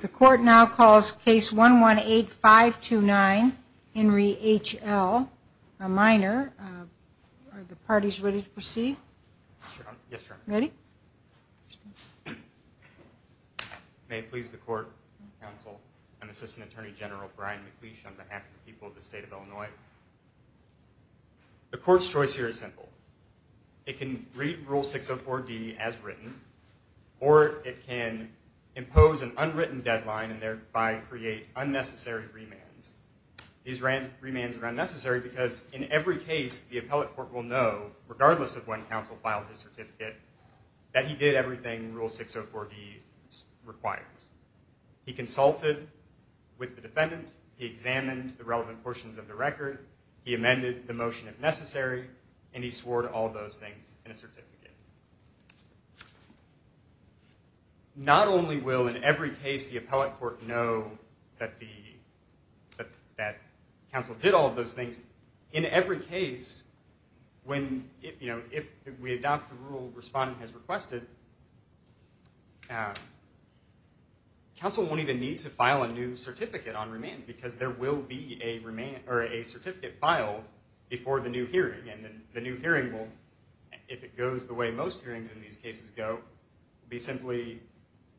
The court now calls case one one eight five two nine in re H.L. a minor the parties ready to proceed ready may please the court counsel and assistant attorney general Brian McLeish on behalf of the people of the state of Illinois the court's choice here is simple it can read rule 604 D as written or it can impose an unwritten deadline and thereby create unnecessary remands these ran remands are unnecessary because in every case the appellate court will know regardless of when counsel filed his certificate that he did everything rule 604 D required he consulted with the defendant he examined the relevant portions of the record he amended the motion if necessary and he swore to all those things in a certificate not only will in every case the appellate court know that the that counsel did all those things in every case when if you know if we adopt the rule respond has requested council won't even need to file a new certificate on remain because there will be a remain or a certificate filed before the new hearing and then the new hearing will if it goes the way most hearings in these cases go be simply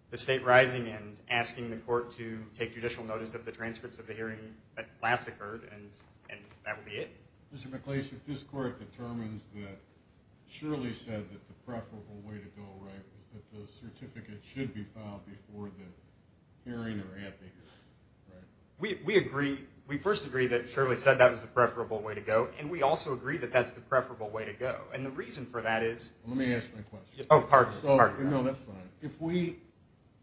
the state rising and asking the court to take judicial notice of the transcripts of the hearing that last occurred and and that would be it mr. mccleish if this court determines that surely said that the preferable way to go right that the certificate should be found before the hearing or at the here we agree we first agree that surely said that was the preferable way to go and we also agree that that's the preferable way to go and the reason for that is let me ask my question oh part so you know that's fine if we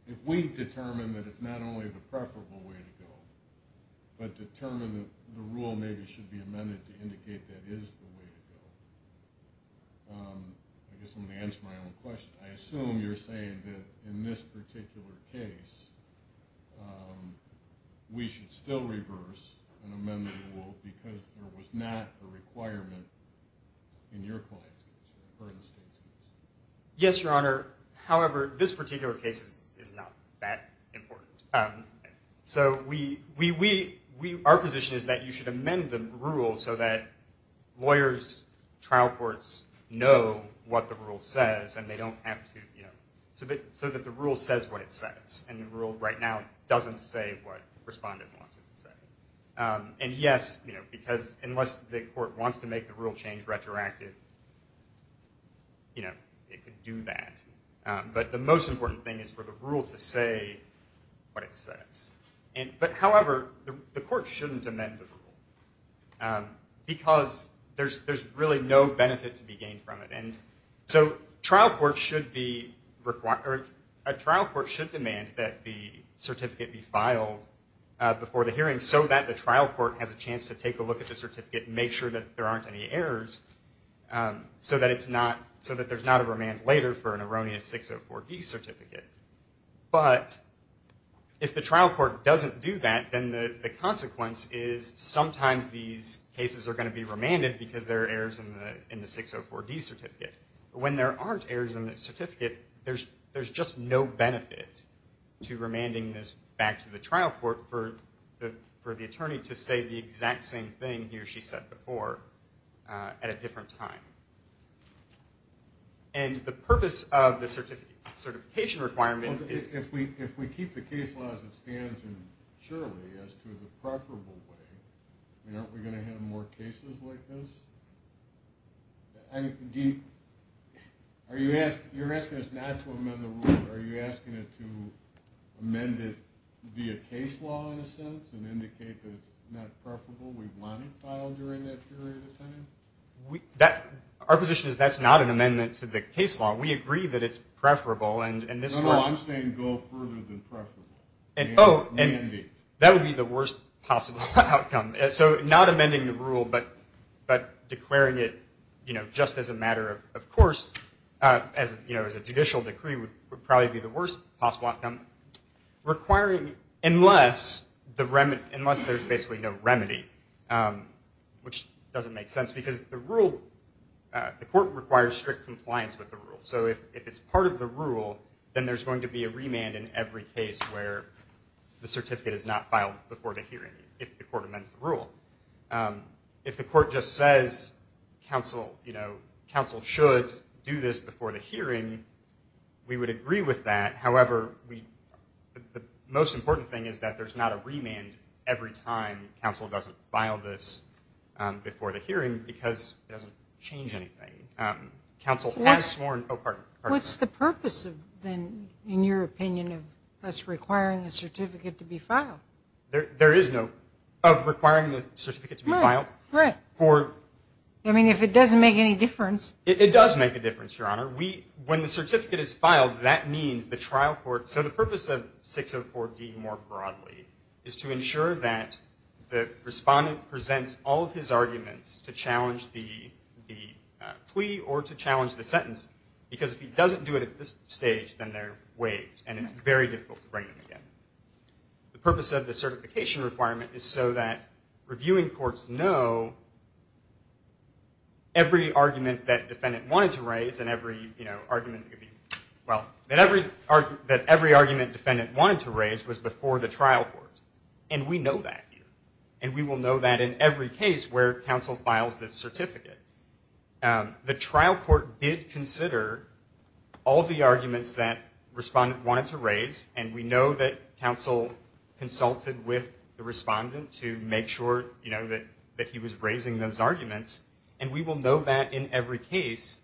if we determine that it's not only the preferable way to go but determine the rule maybe should be amended to indicate that is the way to go I guess I'm gonna answer my own question I assume you're saying that in this particular case we should still reverse an amendment will because there was not a requirement in your class yes your honor however this particular case is not that important so we we we our position is that you should amend the rule so that lawyers trial courts know what the rule says and they don't have so that so that the rule says what it says and the rule right now doesn't say what respondent wants it to say and yes you know because unless the court wants to make the rule change retroactive you know it could do that but the most important thing is for the rule to say what it says and but however the court shouldn't amend the rule because there's there's really no benefit to be gained from it and so trial court should be required a trial court should demand that the certificate be filed before the hearing so that the trial court has a chance to take a look at the certificate make sure that there aren't any errors so that it's not so that there's not a remand later for an erroneous 604 D certificate but if the trial court doesn't do that then the consequence is sometimes these cases are going to be remanded because there are errors in the 604 D certificate when there aren't errors in the certificate there's there's just no benefit to remanding this back to the trial court for the for the attorney to say the exact same thing he or she said before at a different time and the purpose of the certificate certification requirement is if we if it stands in surely as to the preferable way you know we're going to have more cases like this I'm deep are you ask you're asking us not to amend the rule are you asking it to amend it via case law in a sense and indicate that it's not preferable we want it filed during that period of time we that our position is that's not an amendment to the case law we agree that it's and oh and that would be the worst possible outcome so not amending the rule but but declaring it you know just as a matter of course as you know as a judicial decree would probably be the worst possible outcome requiring unless the remit unless there's basically no remedy which doesn't make sense because the rule the court requires strict compliance with the rule so if it's part of the rule then there's going to be a remand in every case where the certificate is not filed before the hearing if the court amends the rule if the court just says counsel you know counsel should do this before the hearing we would agree with that however we the most important thing is that there's not a remand every time counsel doesn't file this before the hearing because counsel what's the purpose of then in your opinion of us requiring a certificate to be filed there there is no of requiring the certificate to be filed right or I mean if it doesn't make any difference it does make a difference your honor we when the certificate is filed that means the trial court so the purpose of 604 D more broadly is to ensure that the challenge the plea or to challenge the sentence because if he doesn't do it at this stage then they're waived and it's very difficult to bring them again the purpose of the certification requirement is so that reviewing courts know every argument that defendant wanted to raise and every you know argument well that every art that every argument defendant wanted to raise was before the trial court and we know that and we will know that in every case where counsel files certificate the trial court did consider all the arguments that respond wanted to raise and we know that counsel consulted with the respondent to make sure you know that that he was raising those arguments and we will know that in every case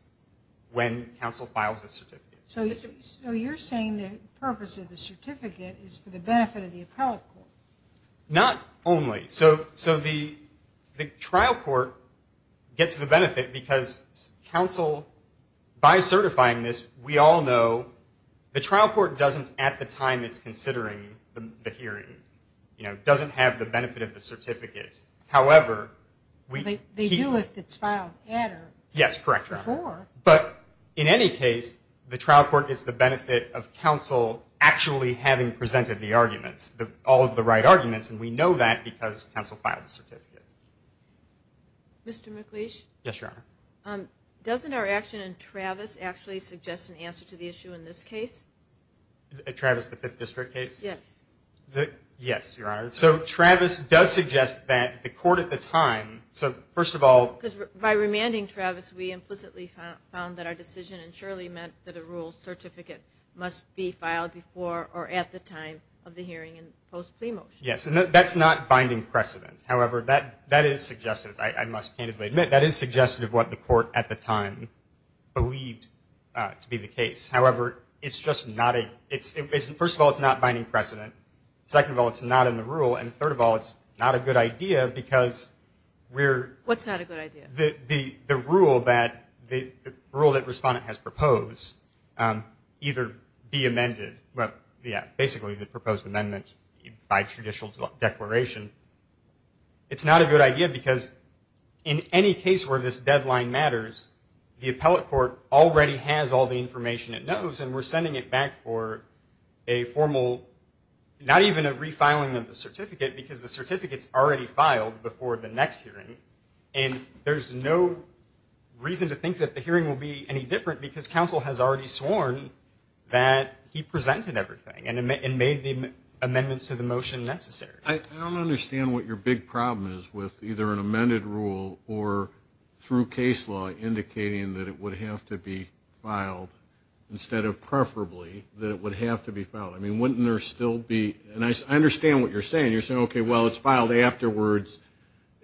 when counsel files a certificate so you're saying the purpose of the certificate is for the benefit of the appellate court not only so so the the court gets the benefit because counsel by certifying this we all know the trial court doesn't at the time it's considering the hearing you know doesn't have the benefit of the certificate however we do if it's filed yes correct before but in any case the trial court is the benefit of counsel actually having presented the arguments that all of the right arguments and we know that because counsel filed a certificate Mr. McLeish yes your honor um doesn't our action and Travis actually suggest an answer to the issue in this case Travis the fifth district case yes the yes your honor so Travis does suggest that the court at the time so first of all because by remanding Travis we implicitly found that our decision and surely meant that a rule certificate must be filed before or at the time of the hearing and post plea motion yes and that's not binding precedent however that that is suggestive I must candidly admit that is suggestive what the court at the time believed to be the case however it's just not a it's first of all it's not binding precedent second of all it's not in the rule and third of all it's not a good idea because we're what's not a good idea the the the rule that the rule that respondent has proposed either be amended well yeah basically the proposed amendment by judicial declaration it's not a good idea because in any case where this deadline matters the appellate court already has all the information it knows and we're sending it back for a formal not even a refiling of the certificate because the certificates already filed before the next hearing and there's no reason to think that the hearing will be any different because counsel has already sworn that he presented everything and made the amendments to the motion necessary I don't understand what your big problem is with either an amended rule or through case law indicating that it would have to be filed instead of preferably that it would have to be found I mean wouldn't there still be and I understand what you're saying you're saying okay well it's filed afterwards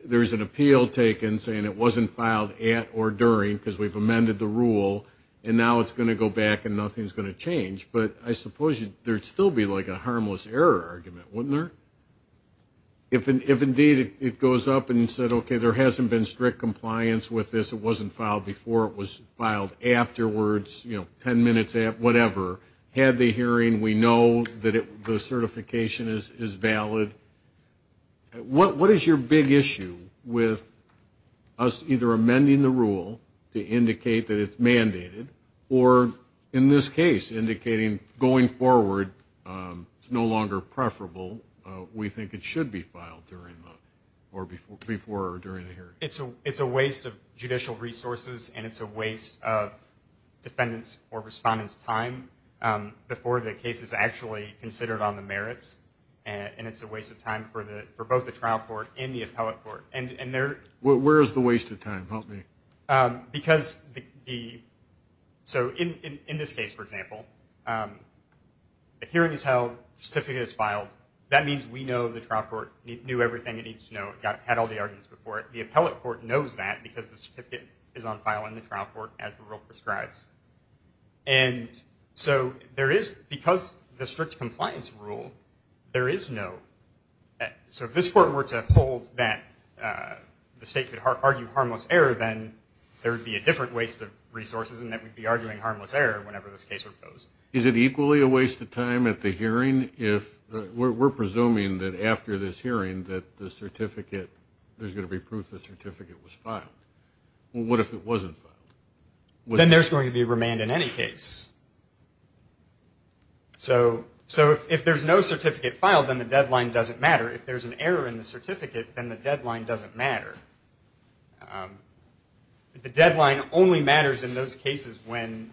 there's an appeal taken saying it wasn't filed at or during because we've amended the rule and now it's going to go back and nothing's going to change but I suppose you there'd still be like a harmless error argument wouldn't there if indeed it goes up and you said okay there hasn't been strict compliance with this it wasn't filed before it was filed afterwards you know ten minutes at whatever had the hearing we know that it the certification is is valid what what is your big issue with us either amending the rule to indicate that it's mandated or in this case indicating going forward it's no longer preferable we think it should be filed during or before before or during the hearing it's a it's a waste of judicial resources and it's a waste of defendants or respondents time before the case is actually considered on the merits and it's a waste of time for the for both the trial court in the appellate court and and there where is the waste of time because the so in in this case for example the hearing is held certificate is filed that means we know the trial court knew everything it needs to know it got had all the arguments before it the appellate court knows that because the certificate is on file in the trial court as the rule prescribes and so there is because the strict compliance rule there is no so if this court were to hold that the state could argue harmless error then there would be a different waste of resources and that would be arguing harmless error whenever this case is it equally a waste of time at the hearing if we're presuming that after this hearing that the certificate there's gonna be proof the certificate was filed well what if it wasn't then there's going to be remand in any case so so if there's no certificate filed then the deadline doesn't matter if there's an error in the certificate then the deadline doesn't matter the deadline only matters in those cases when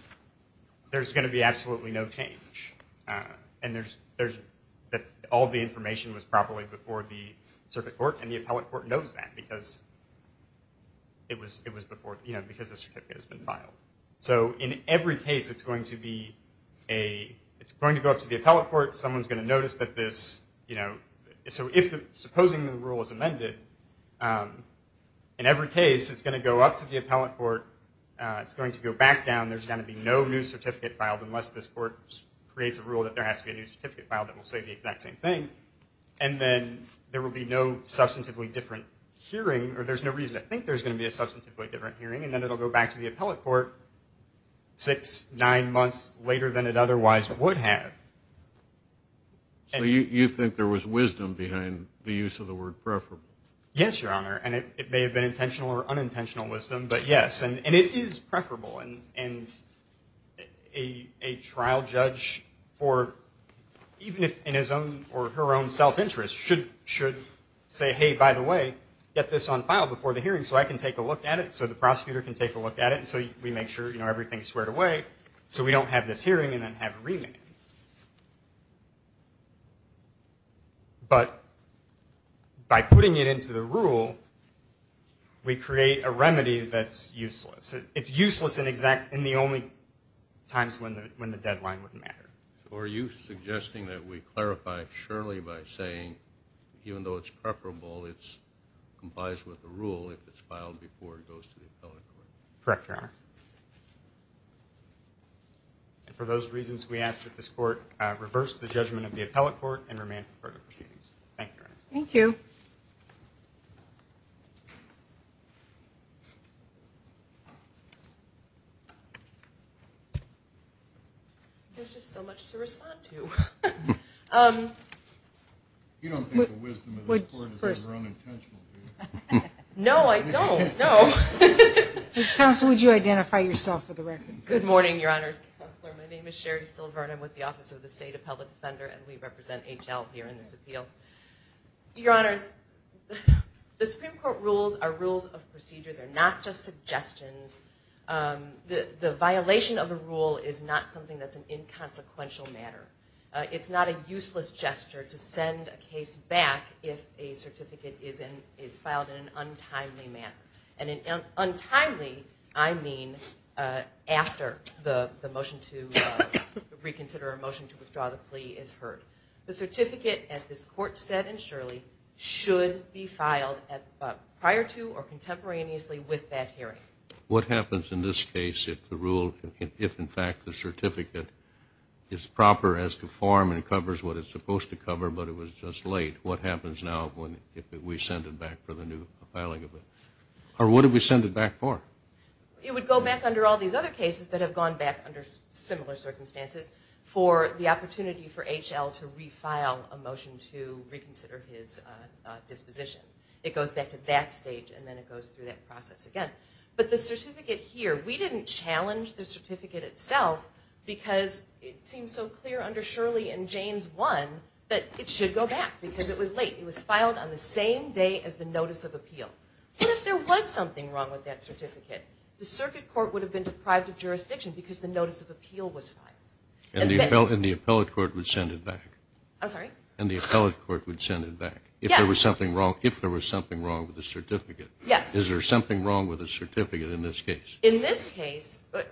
there's going to be absolutely no change and there's there's that all the information was properly before the circuit court and the appellate court knows that because it was it was before you know because this has been filed so in every case it's going to be a it's going to go up to the appellate court someone's going to notice that this you know so if the supposing the rule is amended in every case it's going to go up to the appellate court it's going to go back down there's going to be no new certificate filed unless this court creates a rule that there has to be a new certificate file that will say the exact same thing and then there will be no substantively different hearing or there's no reason I think there's going to be a substantively different hearing and then it'll go back to the appellate court six nine months later than it otherwise would have so you think there was wisdom behind the use of the word preferable yes your honor and it may have been intentional or unintentional wisdom but yes and it is preferable and and a a trial judge for even if in his own or her own self-interest should should say hey by the way get this on file before the hearing so I can take a look at it so the prosecutor can take a look at it and so we make sure you know so we don't have this hearing and then have a remand but by putting it into the rule we create a remedy that's useless it's useless in exact in the only times when when the deadline wouldn't matter or you suggesting that we clarify surely by saying even though it's preferable it's complies with the rule if it's and for those reasons we ask that this court reverse the judgment of the appellate court and remain for the proceedings thank you there's just so much to respond to you don't know I don't know counsel would you identify yourself for the record good morning your honors my name is Sherry Silver and I'm with the office of the state appellate defender and we represent HL here in this appeal your honors the Supreme Court rules are rules of procedure they're not just suggestions the the violation of a rule is not something that's an inconsequential matter it's not a useless gesture to send a case back if a certificate is in is filed in an untimely I mean after the the motion to reconsider a motion to withdraw the plea is heard the certificate as this court said and surely should be filed at prior to or contemporaneously with that hearing what happens in this case if the rule if in fact the certificate is proper as to form and covers what it's supposed to cover but it was just late what happens now when if we sent it back for the new filing of it or what did we send it back for it would go back under all these other cases that have gone back under similar circumstances for the opportunity for HL to refile a motion to reconsider his disposition it goes back to that stage and then it goes through that process again but the certificate here we didn't challenge the certificate itself because it seems so clear under Shirley and James one that it should go back because it was late it was filed on the same day as the notice of appeal if there was something wrong with that certificate the circuit court would have been deprived of jurisdiction because the notice of appeal was filed and the appeal in the appellate court would send it back I'm sorry and the appellate court would send it back if there was something wrong if there was something wrong with the certificate yes is there something wrong with a certificate in this case in this case but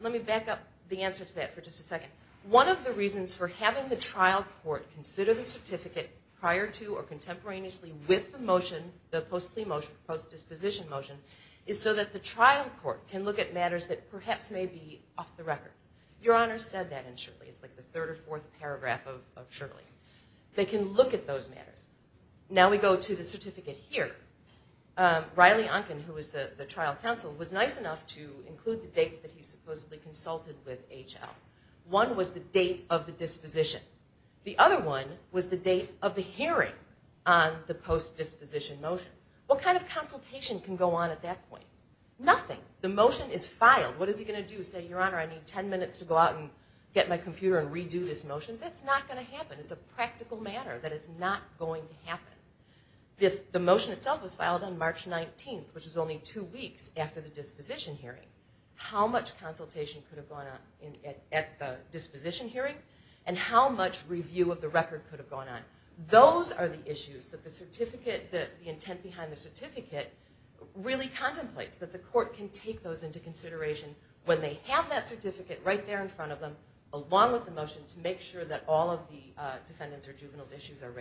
let me back up the answer to that for just a second one of the reasons for having the trial court consider the certificate prior to or contemporaneously with the motion the post plea motion post disposition motion is so that the trial court can look at matters that perhaps may be off the record your honor said that in shortly it's like the third or fourth paragraph of Shirley they can look at those matters now we go to the certificate here Riley Unkin who is the the trial counsel was nice enough to include the dates that he supposedly consulted with HL one was the date of the disposition the other one was the date of the hearing on the post disposition motion what kind of consultation can go on at that point nothing the motion is filed what is he going to do say your honor I need 10 minutes to go out and get my computer and redo this motion that's not going to happen it's a practical matter that it's not going to happen if the motion itself was filed on March 19th which is only two weeks after the disposition hearing how much consultation could have gone on at the disposition hearing and how much review of the record could have gone on those are the issues that the certificate that the intent behind the certificate really contemplates that the court can take those into consideration when they have that certificate right there in front of them along with the motion to make sure that all of the defendants or juveniles issues are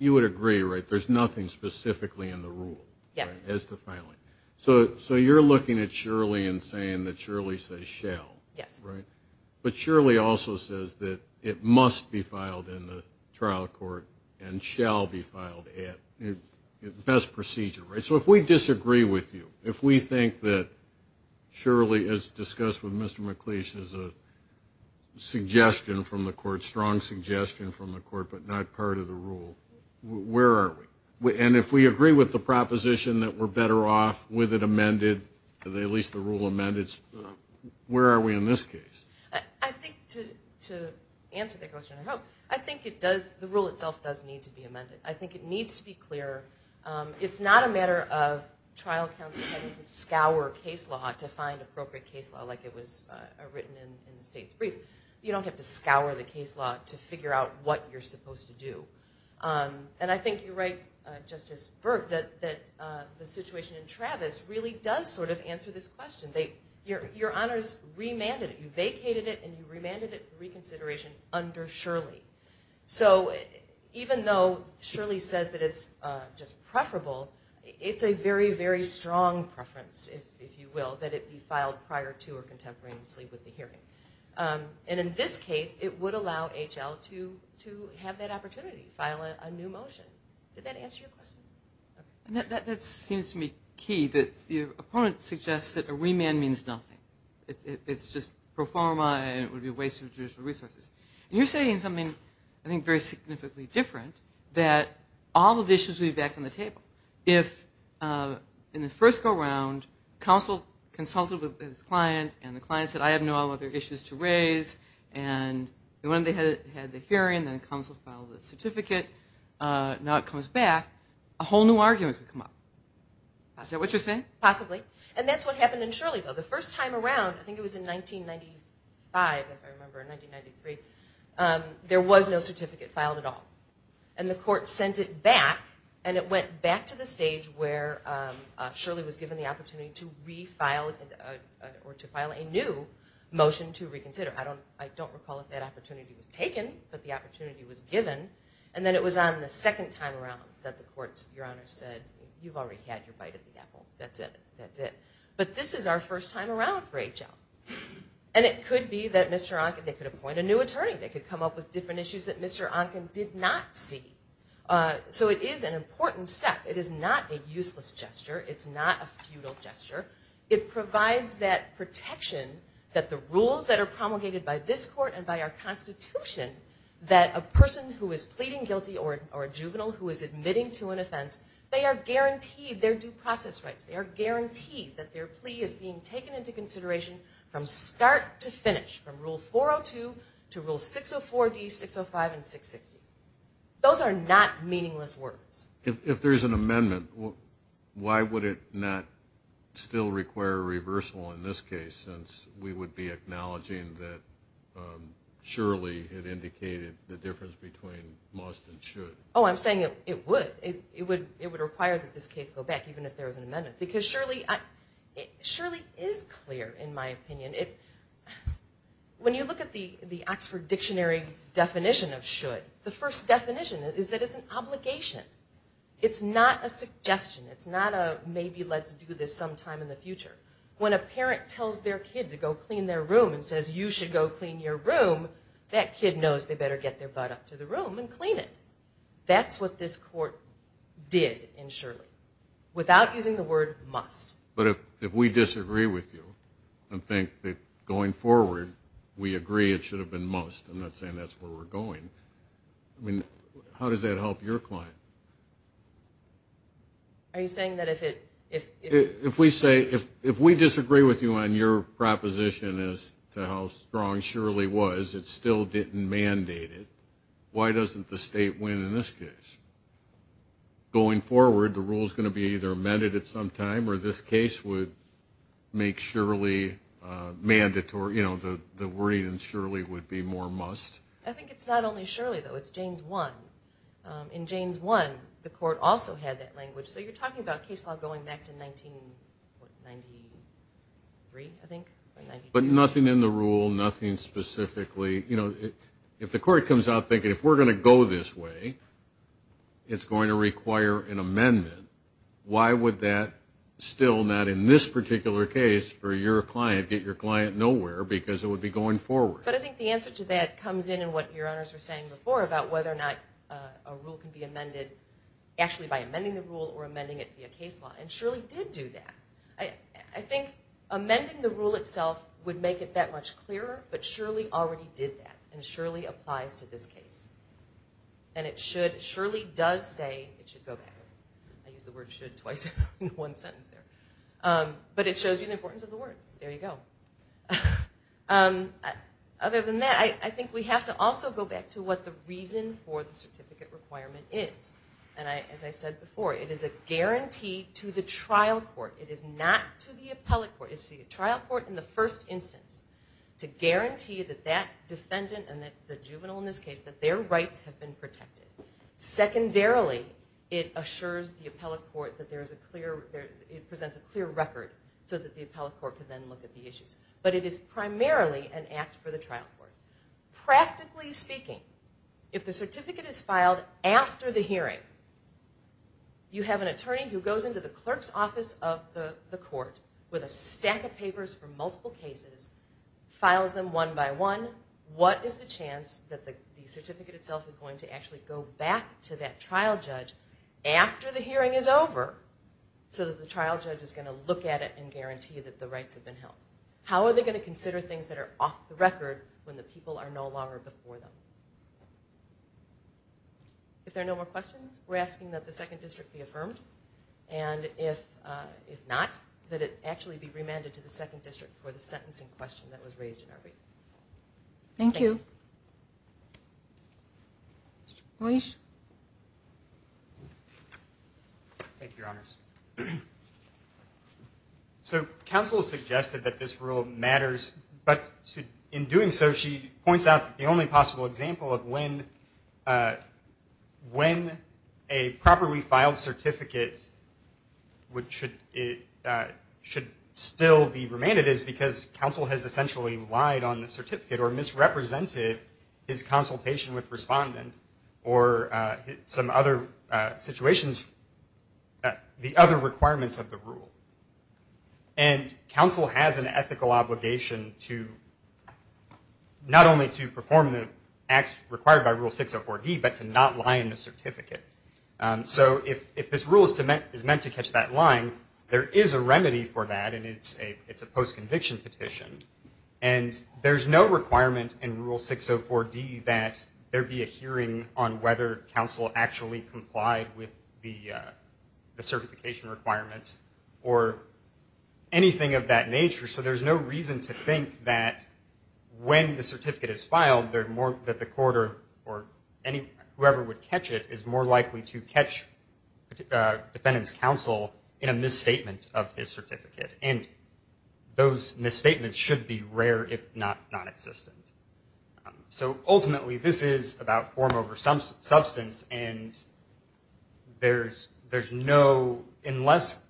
you would agree right there's nothing specifically in the rule yes as to filing so so you're looking at Shirley and saying that Shirley says shell yes right but surely also says that it must be filed in the trial court and shall be filed at best procedure right so if we disagree with you if we think that surely as discussed with mr. McLeish is a suggestion from the court strong suggestion from the court but not part of the rule where are we and if we agree with the proposition that we're better off with it amended at least the rule amendments where are we in this case I think it does the rule itself does need to be amended I think it needs to be clear it's not a matter of trial counsel scour case law to find appropriate case law like it was written you don't have to scour the case law to figure out what you're supposed to do and I think you're right justice Burke that that the situation in Travis really does sort of answer this question they your honors remanded you vacated it and you remanded it reconsideration under Shirley so even though Shirley says that it's just preferable it's a very very strong preference if you will that it be and in this case it would allow HL to to have that opportunity file a new motion did that answer your question that seems to me key that the opponent suggests that a remand means nothing it's just pro forma and it would be a waste of judicial resources and you're saying something I think very significantly different that all of the issues we back on the table if in the first go-around counsel consulted with this client and the client said I have no other issues to raise and when they had the hearing then counsel filed a certificate now it comes back a whole new argument come up I said what you're saying possibly and that's what happened in Shirley though the first time around I think it was in 1995 there was no certificate filed at all and the court sent it back and it was given the opportunity to refile or to file a new motion to reconsider I don't I don't recall if that opportunity was taken but the opportunity was given and then it was on the second time around that the courts your honor said you've already had your bite at the apple that's it that's it but this is our first time around for HL and it could be that mr. Anken they could appoint a new attorney they could come up with different issues that mr. Anken did not see so it is an important step it is not a useless gesture it's not a futile gesture it provides that protection that the rules that are promulgated by this court and by our Constitution that a person who is pleading guilty or a juvenile who is admitting to an offense they are guaranteed their due process rights they are guaranteed that their plea is being taken into consideration from start to finish from rule 402 to rule 604 D 605 and 660 those are not meaningless words if there's an amendment why would it not still require a reversal in this case since we would be acknowledging that surely had indicated the difference between must and should oh I'm saying it it would it would it would require that this case go back even if there was an amendment because surely it surely is clear in my opinion it when you look at the the Oxford Dictionary definition of should the first definition is that it's obligation it's not a suggestion it's not a maybe let's do this sometime in the future when a parent tells their kid to go clean their room and says you should go clean your room that kid knows they better get their butt up to the room and clean it that's what this court did and surely without using the word must but if we disagree with you and think that going forward we agree it should have been most I'm not saying that's where we're going I mean how does that help your client are you saying that if it if if we say if if we disagree with you on your proposition as to how strong Shirley was it still didn't mandate it why doesn't the state win in this case going forward the rule is going to be either amended at some time or this case would make surely mandatory you know the the worry and surely would be more must I think it's not only surely though it's James one in James one the court also had that language so you're talking about case law going back to 19 but nothing in the rule nothing specifically you know if the court comes out thinking if we're gonna go this way it's going to require an amendment why would that still not in this particular case for your client get your client nowhere because it would be going forward but I think the answer to that comes in and what your honors are saying before about whether or not a rule can be amended actually by amending the rule or amending it via case law and surely did do that I think amending the rule itself would make it that much clearer but surely already did that and surely applies to this case and it should surely does say it should go back I use the word should twice in one sentence there but it shows you the there you go other than that I think we have to also go back to what the reason for the certificate requirement is and I as I said before it is a guarantee to the trial court it is not to the appellate court it's the trial court in the first instance to guarantee that that defendant and that the juvenile in this case that their rights have been protected secondarily it assures the appellate court that there is a clear there it presents a clear record so that the appellate court could then look at the issues but it is primarily an act for the trial court practically speaking if the certificate is filed after the hearing you have an attorney who goes into the clerk's office of the court with a stack of papers for multiple cases files them one by one what is the chance that the certificate itself is going to actually go back to that trial judge after the hearing is over so that the trial judge is going to look at it and guarantee that the rights have been held how are they going to consider things that are off the record when the people are no longer before them if there are no more questions we're asking that the second district be affirmed and if if not that it actually be remanded to the second district for the sentencing question that was raised in our rate thank you please thank your honors so counsel suggested that this rule matters but in doing so she points out the only possible example of when when a properly filed certificate which should it should still be remanded is because counsel has or some other situations that the other requirements of the rule and counsel has an ethical obligation to not only to perform the acts required by rule 604 D but to not lie in the certificate so if if this rule is meant is meant to catch that line there is a remedy for that and it's a it's a post-conviction petition and there's no requirement in rule 604 D that there be a hearing on whether counsel actually complied with the certification requirements or anything of that nature so there's no reason to think that when the certificate is filed there more that the quarter or any whoever would catch it is more likely to catch the defendant's counsel in a misstatement of his certificate and those misstatements should be rare if not non-existent so ultimately this is about form over some substance and there's there's no unless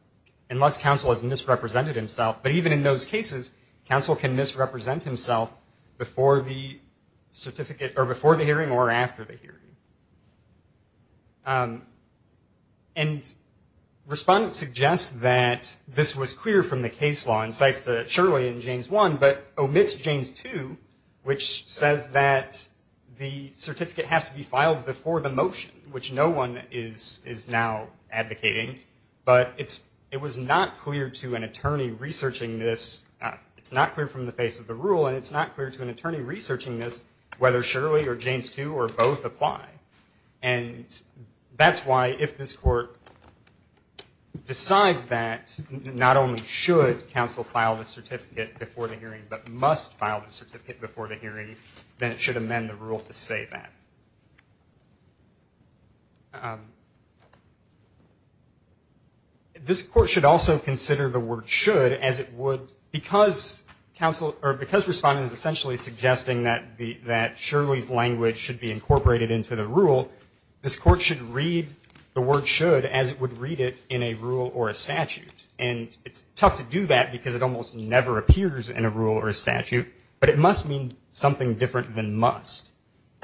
unless counsel has misrepresented himself but even in those cases counsel can misrepresent himself before the certificate or before the hearing or after the hearing and respondents suggest that this was clear from the case law incites to surely in James 1 but omits James 2 which says that the certificate has to be filed before the motion which no one is is now advocating but it's it was not clear to an attorney researching this it's not clear from the face of the rule and it's not clear to an attorney researching this whether surely or James 2 or both apply and that's why if this court decides that not only should counsel file the certificate before the hearing but must file the certificate before the hearing then it should amend the rule to say that this court should also consider the word should as it would because counsel or because respondents essentially suggesting that the that Shirley's language should be incorporated into the rule this court should read the word should as it would read it in a rule or a statute and it's tough to do that because it almost never appears in a rule or a statute but it must mean something different than must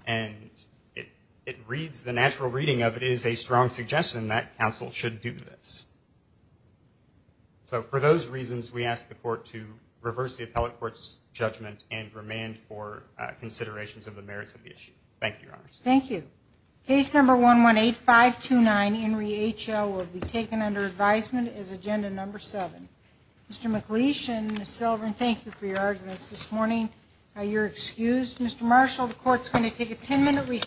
and it it reads the natural reading of it is a strong suggestion that counsel should do this so for those reasons we ask the court to reverse the appellate courts judgment and remand for considerations of the merits of the issue thank you thank you case number one one eight five to nine Henry HL will be taken under advisement is agenda number seven mr. McLeish and silver and thank you for your arguments this morning you're excused mr. Marshall the court's going to take a 10-minute